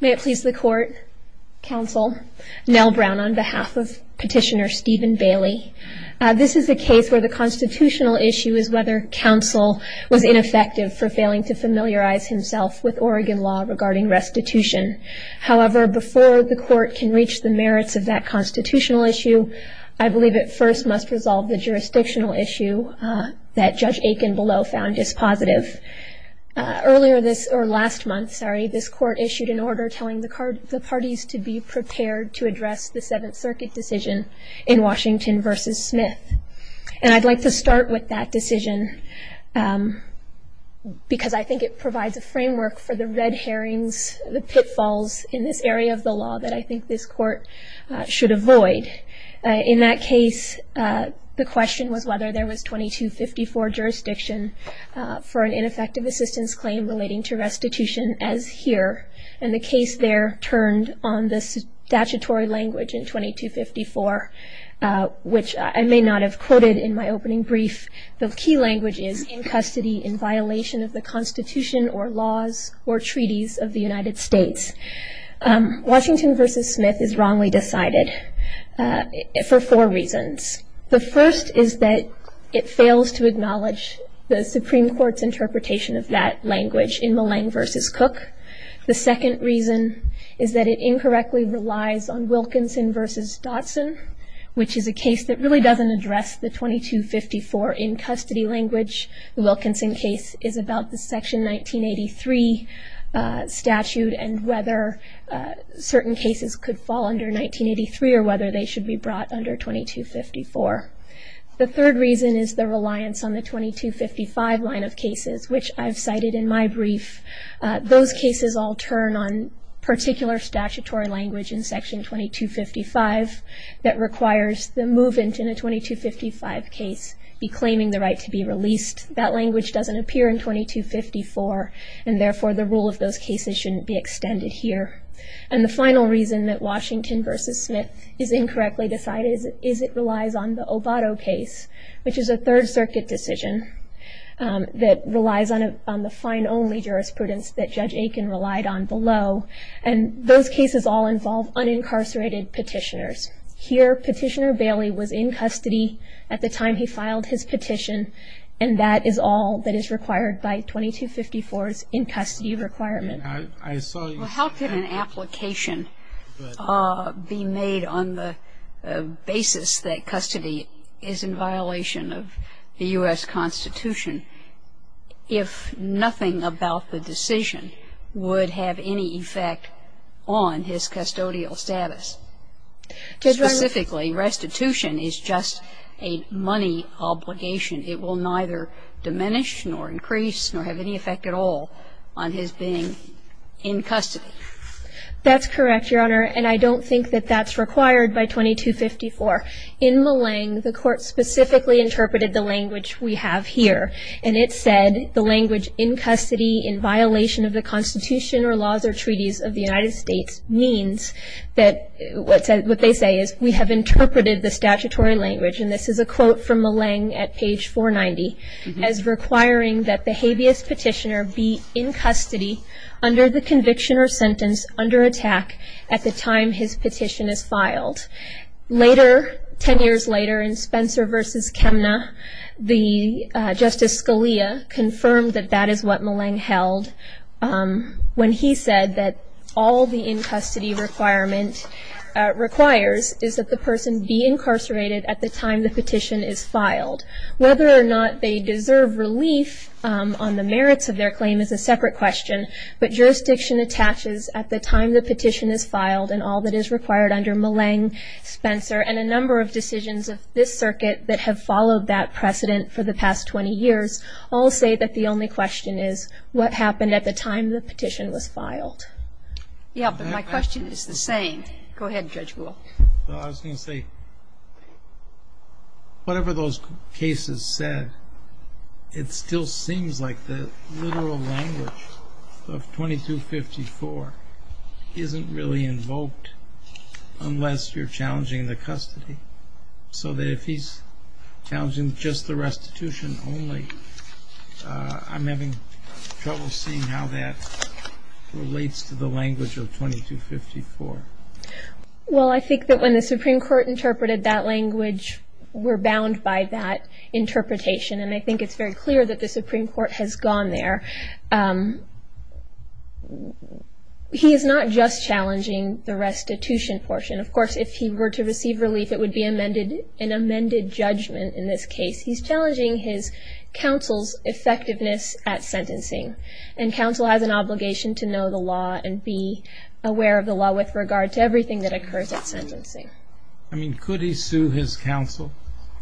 May it please the court, counsel, Nell Brown on behalf of petitioner Stephen Bailey. This is a case where the constitutional issue is whether counsel was ineffective for failing to familiarize himself with Oregon law regarding restitution. However, before the court can reach the merits of that constitutional issue, I believe it first must resolve the jurisdictional issue that Judge Akinbelow found dispositive. Earlier this, or last month, sorry, this court issued an order telling the parties to be prepared to address the Seventh Circuit decision in Washington v. Smith. And I'd like to start with that decision because I think it provides a framework for the red herrings, the pitfalls in this area of the law that I think this court should avoid. In that case, the question was whether there was 2254 jurisdiction for an ineffective assistance claim relating to restitution as here. And the case there turned on the statutory language in 2254, which I may not have quoted in my opening brief. The key language is in custody in violation of the Constitution or laws or treaties of the United States. Washington v. Smith is wrongly decided for four reasons. The first is that it fails to acknowledge the Supreme Court's interpretation of that language in Millang v. Cook. The second reason is that it incorrectly relies on Wilkinson v. Dotson, which is a case that really doesn't address the 2254 in custody language. The Wilkinson case is about the Section 1983 statute and whether certain cases could fall under 1983 or whether they should be brought under 2254. The third reason is the reliance on the 2255 line of cases, which I've cited in my brief. Those cases all turn on particular statutory language in Section 2255 that requires the movant in a 2255 case be claiming the right to be released. That language doesn't appear in 2254, and therefore the rule of those cases shouldn't be extended here. And the final reason that Washington v. Smith is incorrectly decided is it relies on the Obato case, which is a Third Circuit decision that relies on the fine-only jurisprudence that Judge Aiken relied on below, and those cases all involve unincarcerated petitioners. Here, Petitioner Bailey was in custody at the time he filed his petition, and that is all that is required by 2254's in-custody requirement. Well, how can an application be made on the basis that custody is in violation of the U.S. Constitution if nothing about the decision would have any effect on his custodial status? Specifically, restitution is just a money obligation. It will neither diminish nor increase nor have any effect at all on his being in custody. That's correct, Your Honor, and I don't think that that's required by 2254. In Milleng, the Court specifically interpreted the language we have here, and it said the language in custody in violation of the Constitution or laws or treaties of the United States means that what they say is we have interpreted the statutory language. And this is a quote from Milleng at page 490, as requiring that the habeas petitioner be in custody under the conviction or sentence under attack at the time his petition is filed. Later, ten years later, in Spencer v. Chemna, Justice Scalia confirmed that that is what Milleng held when he said that all the in-custody requirement requires is that the person be incarcerated at the time the petition is filed. Whether or not they deserve relief on the merits of their claim is a separate question, but jurisdiction attaches at the time the petition is filed and all that is required under Milleng, Spencer and a number of decisions of this circuit that have followed that precedent for the past 20 years all say that the only question is what happened at the time the petition was filed. Yeah, but my question is the same. Go ahead, Judge Gould. Well, I was going to say, whatever those cases said, it still seems like the literal language of 2254 isn't really invoked unless you're challenging the custody. So that if he's challenging just the restitution only, I'm having trouble seeing how that relates to the language of 2254. Well, I think that when the Supreme Court interpreted that language, we're bound by that interpretation, and I think it's very clear that the Supreme Court has gone there. He is not just challenging the restitution portion. Of course, if he were to receive relief, it would be an amended judgment in this case. He's challenging his counsel's effectiveness at sentencing, and counsel has an obligation to know the law and be aware of the law with regard to everything that occurs at sentencing. I mean, could he sue his counsel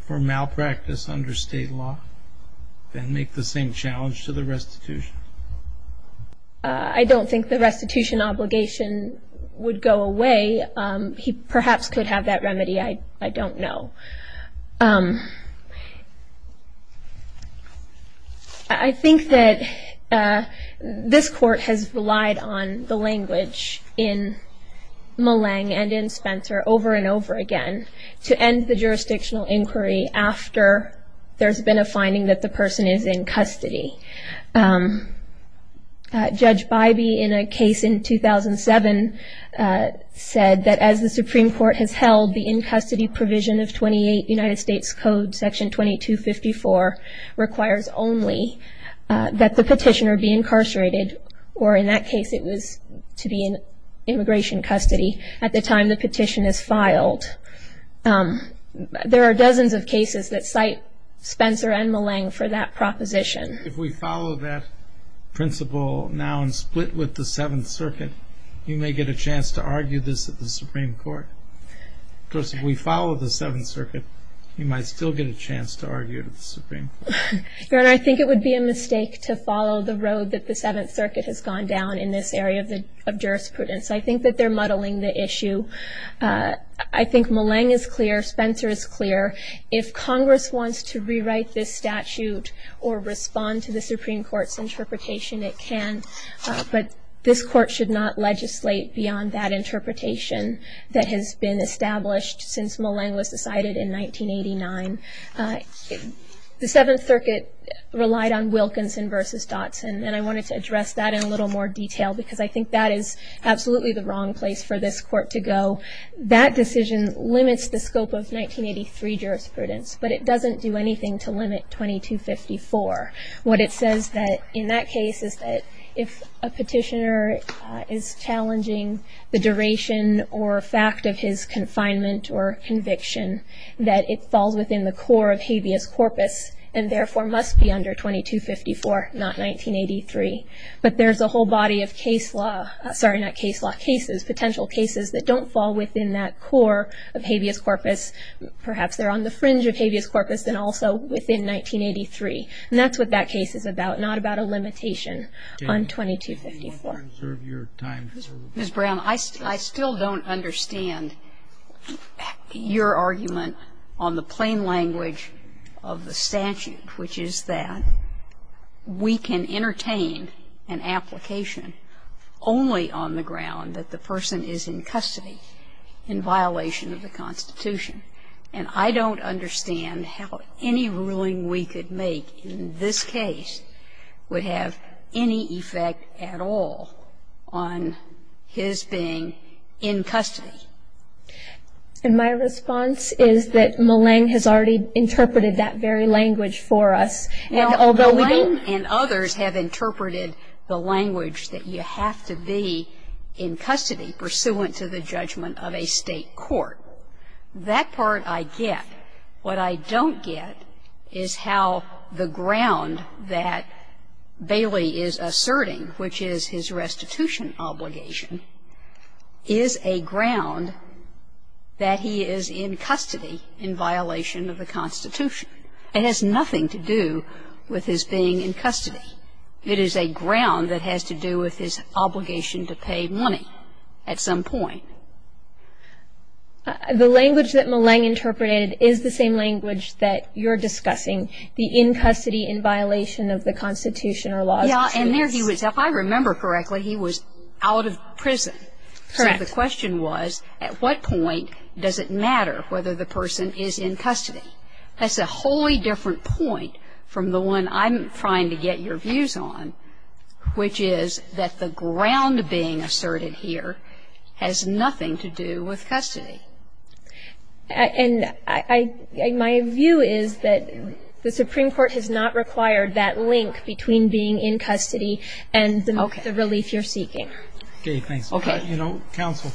for malpractice under state law and make the same challenge to the restitution? I don't think the restitution obligation would go away. He perhaps could have that remedy. I don't know. I think that this court has relied on the language in Mullang and in Spencer over and over again to end the jurisdictional inquiry after there's been a finding that the person is in custody. Judge Bybee, in a case in 2007, said that as the Supreme Court has held the in-custody provision of 28 United States Code Section 2254 requires only that the petitioner be incarcerated, or in that case it was to be in immigration custody at the time the petition is filed. There are dozens of cases that cite Spencer and Mullang for that proposition. If we follow that principle now and split with the Seventh Circuit, you may get a chance to argue this at the Supreme Court. Of course, if we follow the Seventh Circuit, you might still get a chance to argue it at the Supreme Court. Your Honor, I think it would be a mistake to follow the road that the Seventh Circuit has gone down in this area of jurisprudence. I think that they're muddling the issue. I think Mullang is clear. Spencer is clear. If Congress wants to rewrite this statute or respond to the Supreme Court's interpretation, it can. But this Court should not legislate beyond that interpretation that has been established since Mullang was decided in 1989. The Seventh Circuit relied on Wilkinson versus Dotson, and I wanted to address that in a little more detail because I think that is absolutely the wrong place for this Court to go. That decision limits the scope of 1983 jurisprudence, but it doesn't do anything to limit 2254. What it says in that case is that if a petitioner is challenging the duration or fact of his confinement or conviction, that it falls within the core of habeas corpus and therefore must be under 2254, not 1983. But there's a whole body of case law, sorry, not case law, cases, potential cases that don't fall within that core of habeas corpus. Perhaps they're on the fringe of habeas corpus and also within 1983. And that's what that case is about, not about a limitation on 2254. Ms. Brown, I still don't understand your argument on the plain language of the statute, which is that we can entertain an application only on the ground that the person is in custody in violation of the Constitution. And I don't understand how any ruling we could make in this case would have any effect at all on his being in custody. And my response is that Millang has already interpreted that very language for us. Now, Millang and others have interpreted the language that you have to be in custody pursuant to the judgment of a state court. That part I get. What I don't get is how the ground that Bailey is asserting, which is his restitution obligation, is a ground that he is in custody in violation of the Constitution. It has nothing to do with his being in custody. It is a ground that has to do with his obligation to pay money at some point. The language that Millang interpreted is the same language that you're discussing, the in custody in violation of the Constitution or laws of truce. Yes, and there he was. If I remember correctly, he was out of prison. Correct. So the question was, at what point does it matter whether the person is in custody? That's a wholly different point from the one I'm trying to get your views on, which is that the ground being asserted here has nothing to do with custody. And my view is that the Supreme Court has not required that link between being in custody and the relief you're seeking. Okay, thanks. Okay. You know, counsel,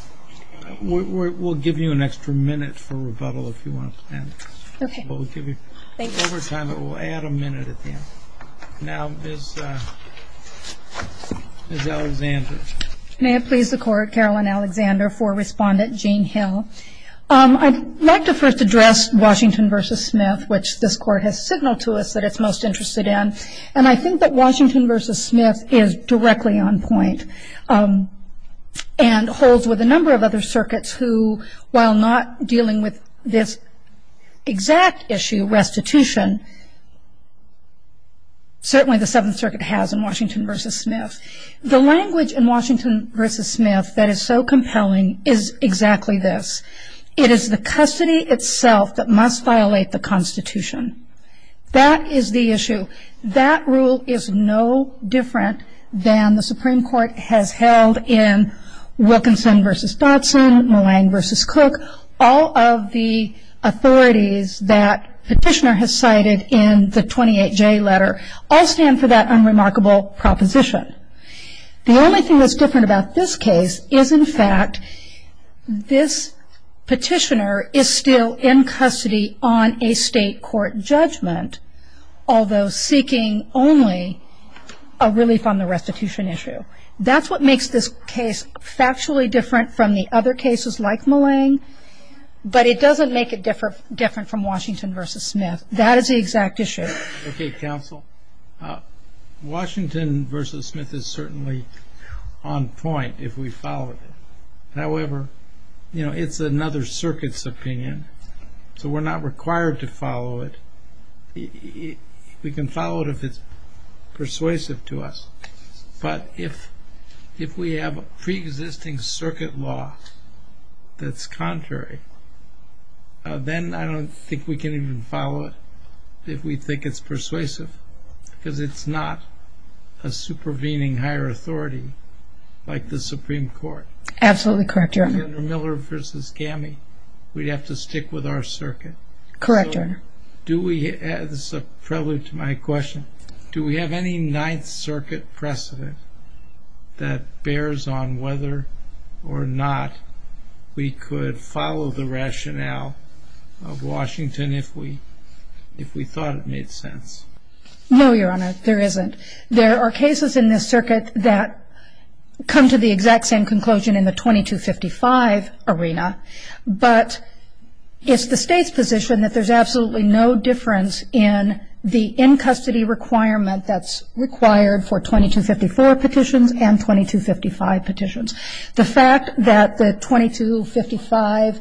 we'll give you an extra minute for rebuttal if you want. Okay. We'll give you overtime, but we'll add a minute at the end. Now Ms. Alexander. May it please the Court, Caroline Alexander, for Respondent Gene Hill. I'd like to first address Washington v. Smith, which this Court has signaled to us that it's most interested in. And I think that Washington v. Smith is directly on point and holds with a number of other circuits who, while not dealing with this exact issue, restitution, certainly the Seventh Circuit has in Washington v. Smith. The language in Washington v. Smith that is so compelling is exactly this. It is the custody itself that must violate the Constitution. That is the issue. That rule is no different than the Supreme Court has held in Wilkinson v. Dodson, Mulline v. Cook. All of the authorities that Petitioner has cited in the 28J letter all stand for that unremarkable proposition. The only thing that's different about this case is, in fact, this Petitioner is still in custody on a state court judgment, although seeking only a relief on the restitution issue. That's what makes this case factually different from the other cases like Mulline, but it doesn't make it different from Washington v. Smith. That is the exact issue. Okay, counsel. Washington v. Smith is certainly on point if we follow it. However, you know, it's another circuit's opinion, so we're not required to follow it. We can follow it if it's persuasive to us. But if we have a preexisting circuit law that's contrary, then I don't think we can even follow it if we think it's persuasive because it's not a supervening higher authority like the Supreme Court. Absolutely correct, Your Honor. Miller v. Gammy, we'd have to stick with our circuit. Correct, Your Honor. This is a prelude to my question. Do we have any Ninth Circuit precedent that bears on whether or not we could follow the rationale of Washington if we thought it made sense? No, Your Honor, there isn't. There are cases in this circuit that come to the exact same conclusion in the 2255 arena, but it's the State's position that there's absolutely no difference in the in-custody requirement that's required for 2254 petitions and 2255 petitions. The fact that the 2255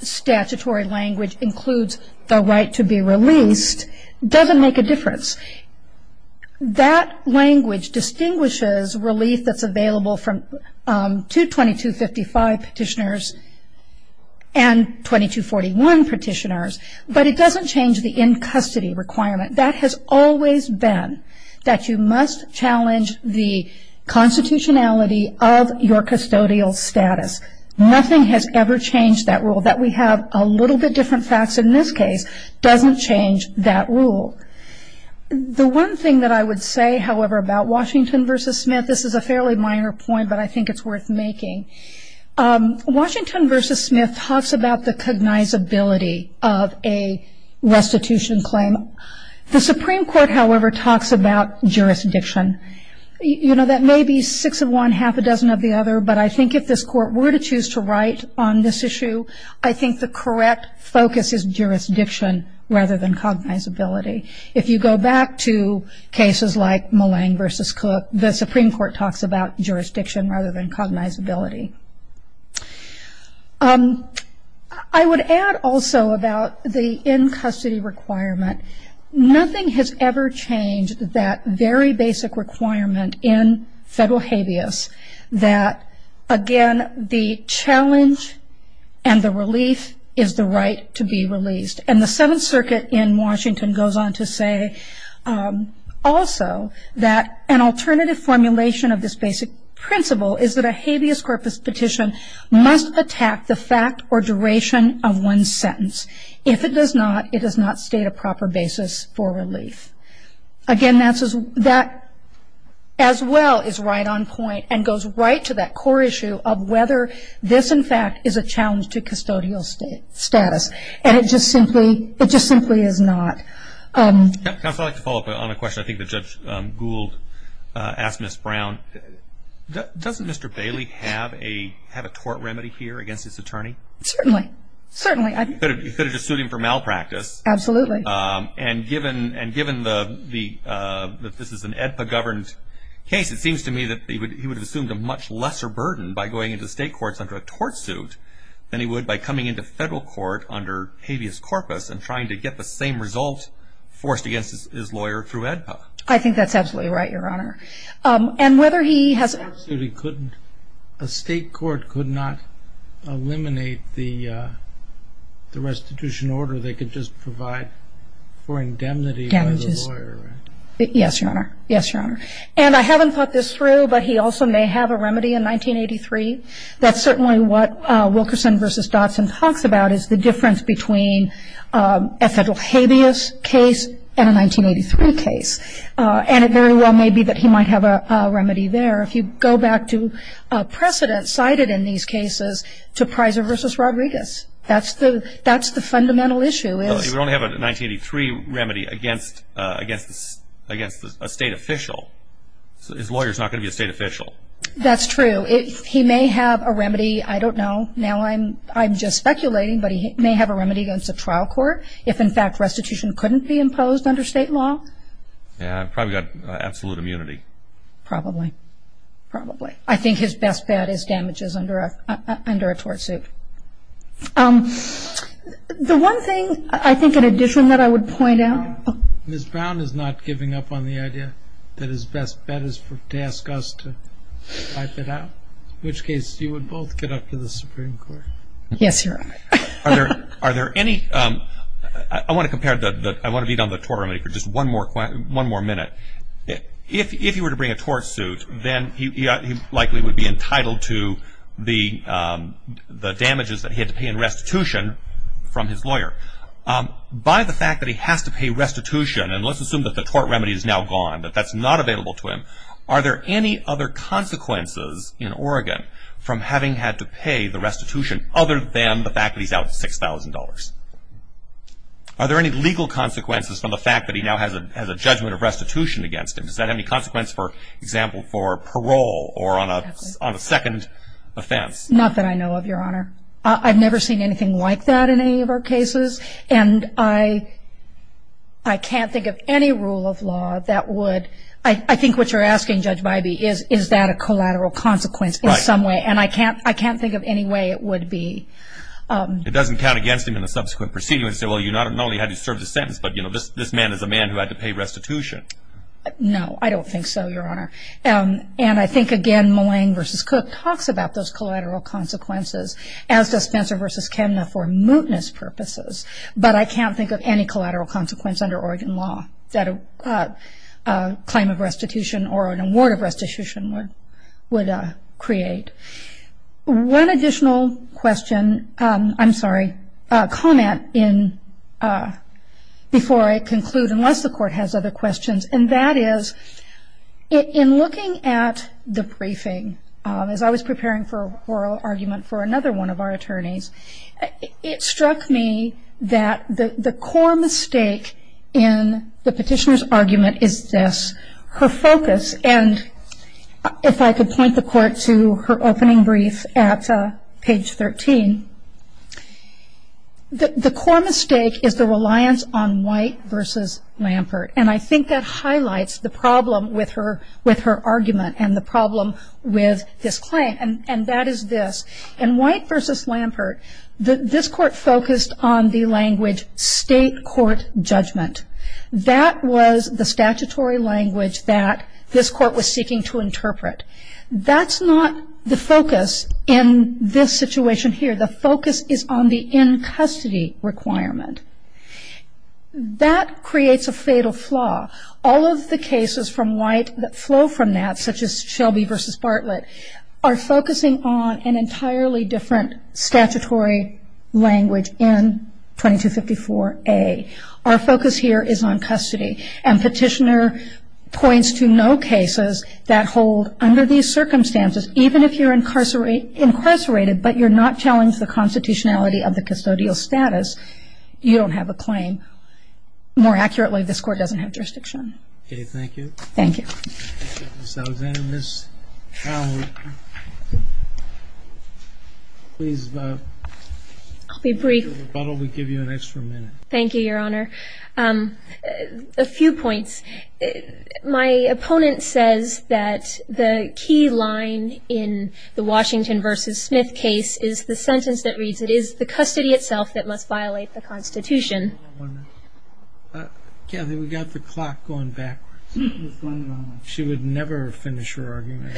statutory language includes the right to be released doesn't make a difference. That language distinguishes relief that's available to 2255 petitioners and 2241 petitioners, but it doesn't change the in-custody requirement. That has always been that you must challenge the constitutionality of your custodial status. Nothing has ever changed that rule. That we have a little bit different facts in this case doesn't change that rule. The one thing that I would say, however, about Washington v. Smith, this is a fairly minor point, but I think it's worth making. Washington v. Smith talks about the cognizability of a restitution claim. The Supreme Court, however, talks about jurisdiction. That may be six of one, half a dozen of the other, but I think if this Court were to choose to write on this issue, I think the correct focus is jurisdiction rather than cognizability. If you go back to cases like Mullane v. Cook, the Supreme Court talks about jurisdiction rather than cognizability. I would add also about the in-custody requirement. Nothing has ever changed that very basic requirement in federal habeas that, again, the challenge and the relief is the right to be released. The Seventh Circuit in Washington goes on to say also that an alternative formulation of this basic principle is that a habeas corpus petition must attack the fact or duration of one's sentence. If it does not, it does not state a proper basis for relief. Again, that as well is right on point and goes right to that core issue of whether this, in fact, is a challenge to custodial status. And it just simply is not. Counsel, I'd like to follow up on a question I think that Judge Gould asked Ms. Brown. Doesn't Mr. Bailey have a tort remedy here against his attorney? Certainly. Certainly. You could have just sued him for malpractice. Absolutely. And given that this is an AEDPA-governed case, it seems to me that he would have assumed a much lesser burden by going into state courts under a tort suit than he would by coming into federal court under habeas corpus and trying to get the same result forced against his lawyer through AEDPA. I think that's absolutely right, Your Honor. And whether he has a tort suit, he couldn't. A state court could not eliminate the restitution order. So they could just provide for indemnity by the lawyer, right? Yes, Your Honor. Yes, Your Honor. And I haven't thought this through, but he also may have a remedy in 1983. That's certainly what Wilkerson v. Dodson talks about is the difference between a federal habeas case and a 1983 case. And it very well may be that he might have a remedy there. If you go back to precedent cited in these cases to Prizer v. Rodriguez, that's the fundamental issue. Well, if you only have a 1983 remedy against a state official, his lawyer is not going to be a state official. That's true. He may have a remedy, I don't know, now I'm just speculating, but he may have a remedy against a trial court if, in fact, restitution couldn't be imposed under state law. Yeah, probably got absolute immunity. Probably. Probably. I think his best bet is damages under a tort suit. The one thing, I think, in addition that I would point out. Ms. Brown is not giving up on the idea that his best bet is to ask us to wipe it out, in which case you would both get up to the Supreme Court. Yes, Your Honor. Are there any, I want to compare, I want to beat on the tort remedy for just one more minute. If he were to bring a tort suit, then he likely would be entitled to the damages that he had to pay in restitution from his lawyer. By the fact that he has to pay restitution, and let's assume that the tort remedy is now gone, that that's not available to him, are there any other consequences in Oregon from having had to pay the restitution other than the fact that he's out of $6,000? Are there any legal consequences from the fact that he now has a judgment of restitution against him? Does that have any consequence, for example, for parole or on a second offense? Not that I know of, Your Honor. I've never seen anything like that in any of our cases, and I can't think of any rule of law that would, I think what you're asking, Judge Bybee, is that a collateral consequence in some way, and I can't think of any way it would be. It doesn't count against him in a subsequent proceeding where they say, well, you not only had to serve the sentence, but this man is a man who had to pay restitution. No, I don't think so, Your Honor. And I think, again, Mullane v. Cook talks about those collateral consequences, as does Spencer v. Kenna, for mootness purposes, but I can't think of any collateral consequence under Oregon law that a claim of restitution or an award of restitution would create. One additional question, I'm sorry, comment before I conclude, unless the Court has other questions, and that is, in looking at the briefing, as I was preparing for a oral argument for another one of our attorneys, it struck me that the core mistake in the petitioner's argument is this, her focus, and if I could point the Court to her opening brief at page 13, the core mistake is the reliance on White v. Lampert, and I think that highlights the problem with her argument and the problem with this claim, and that is this. In White v. Lampert, this Court focused on the language state court judgment. That was the statutory language that this Court was seeking to interpret. That's not the focus in this situation here. The focus is on the in-custody requirement. That creates a fatal flaw. All of the cases from White that flow from that, such as Shelby v. Bartlett, are focusing on an entirely different statutory language in 2254A. Our focus here is on custody, and petitioner points to no cases that hold under these circumstances, even if you're incarcerated but you're not challenged the constitutionality of the custodial status, you don't have a claim. More accurately, this Court doesn't have jurisdiction. Okay, thank you. Thank you. Ms. Alexander, Ms. Powell, please vote. I'll be brief. If you'll rebuttal, we'll give you an extra minute. Thank you, Your Honor. A few points. My opponent says that the key line in the Washington v. Smith case is the sentence that reads, it is the custody itself that must violate the Constitution. Kathy, we've got the clock going backwards. She would never finish her argument.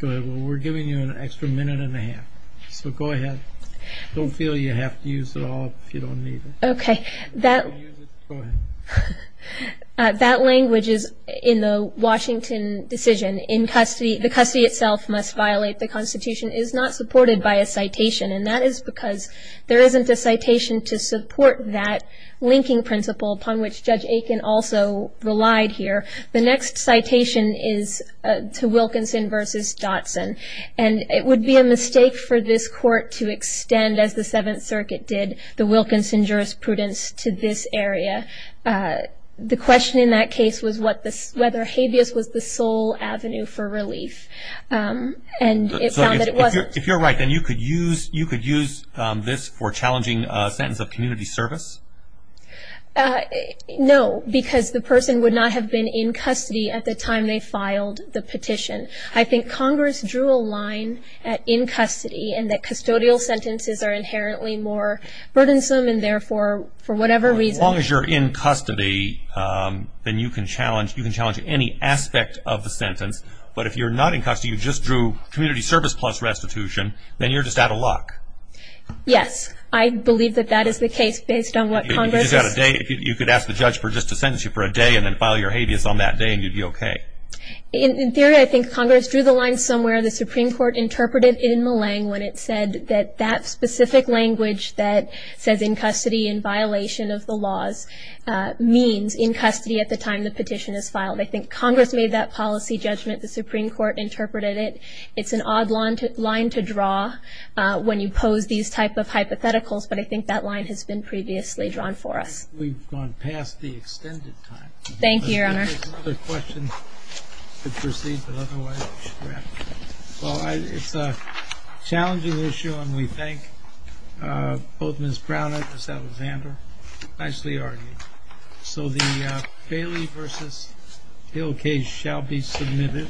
We're giving you an extra minute and a half, so go ahead. Don't feel you have to use it all if you don't need it. Okay. That language is in the Washington decision. The custody itself must violate the Constitution is not supported by a citation, and that is because there isn't a citation to support that linking principle upon which Judge Aiken also relied here. The next citation is to Wilkinson v. Dotson, and it would be a mistake for this Court to extend, as the Seventh Circuit did, the Wilkinson jurisprudence to this area. The question in that case was whether habeas was the sole avenue for relief, and it found that it wasn't. If you're right, then you could use this for challenging a sentence of community service? No, because the person would not have been in custody at the time they filed the petition. I think Congress drew a line at in custody, and that custodial sentences are inherently more burdensome, and therefore, for whatever reason. As long as you're in custody, then you can challenge any aspect of the sentence, but if you're not in custody, you just drew community service plus restitution, then you're just out of luck. Yes, I believe that that is the case based on what Congress... You could ask the judge just to sentence you for a day and then file your habeas on that day, and you'd be okay. In theory, I think Congress drew the line somewhere. The Supreme Court interpreted it in Millang when it said that that specific language that says in custody in violation of the laws means in custody at the time the petition is filed. I think Congress made that policy judgment. The Supreme Court interpreted it. It's an odd line to draw when you pose these type of hypotheticals, but I think that line has been previously drawn for us. We've gone past the extended time. Thank you, Your Honor. If there's another question, we'll proceed the other way. Well, it's a challenging issue, and we thank both Ms. Brown and Ms. Alexander. Nicely argued. So the Bailey v. Hill case shall be submitted.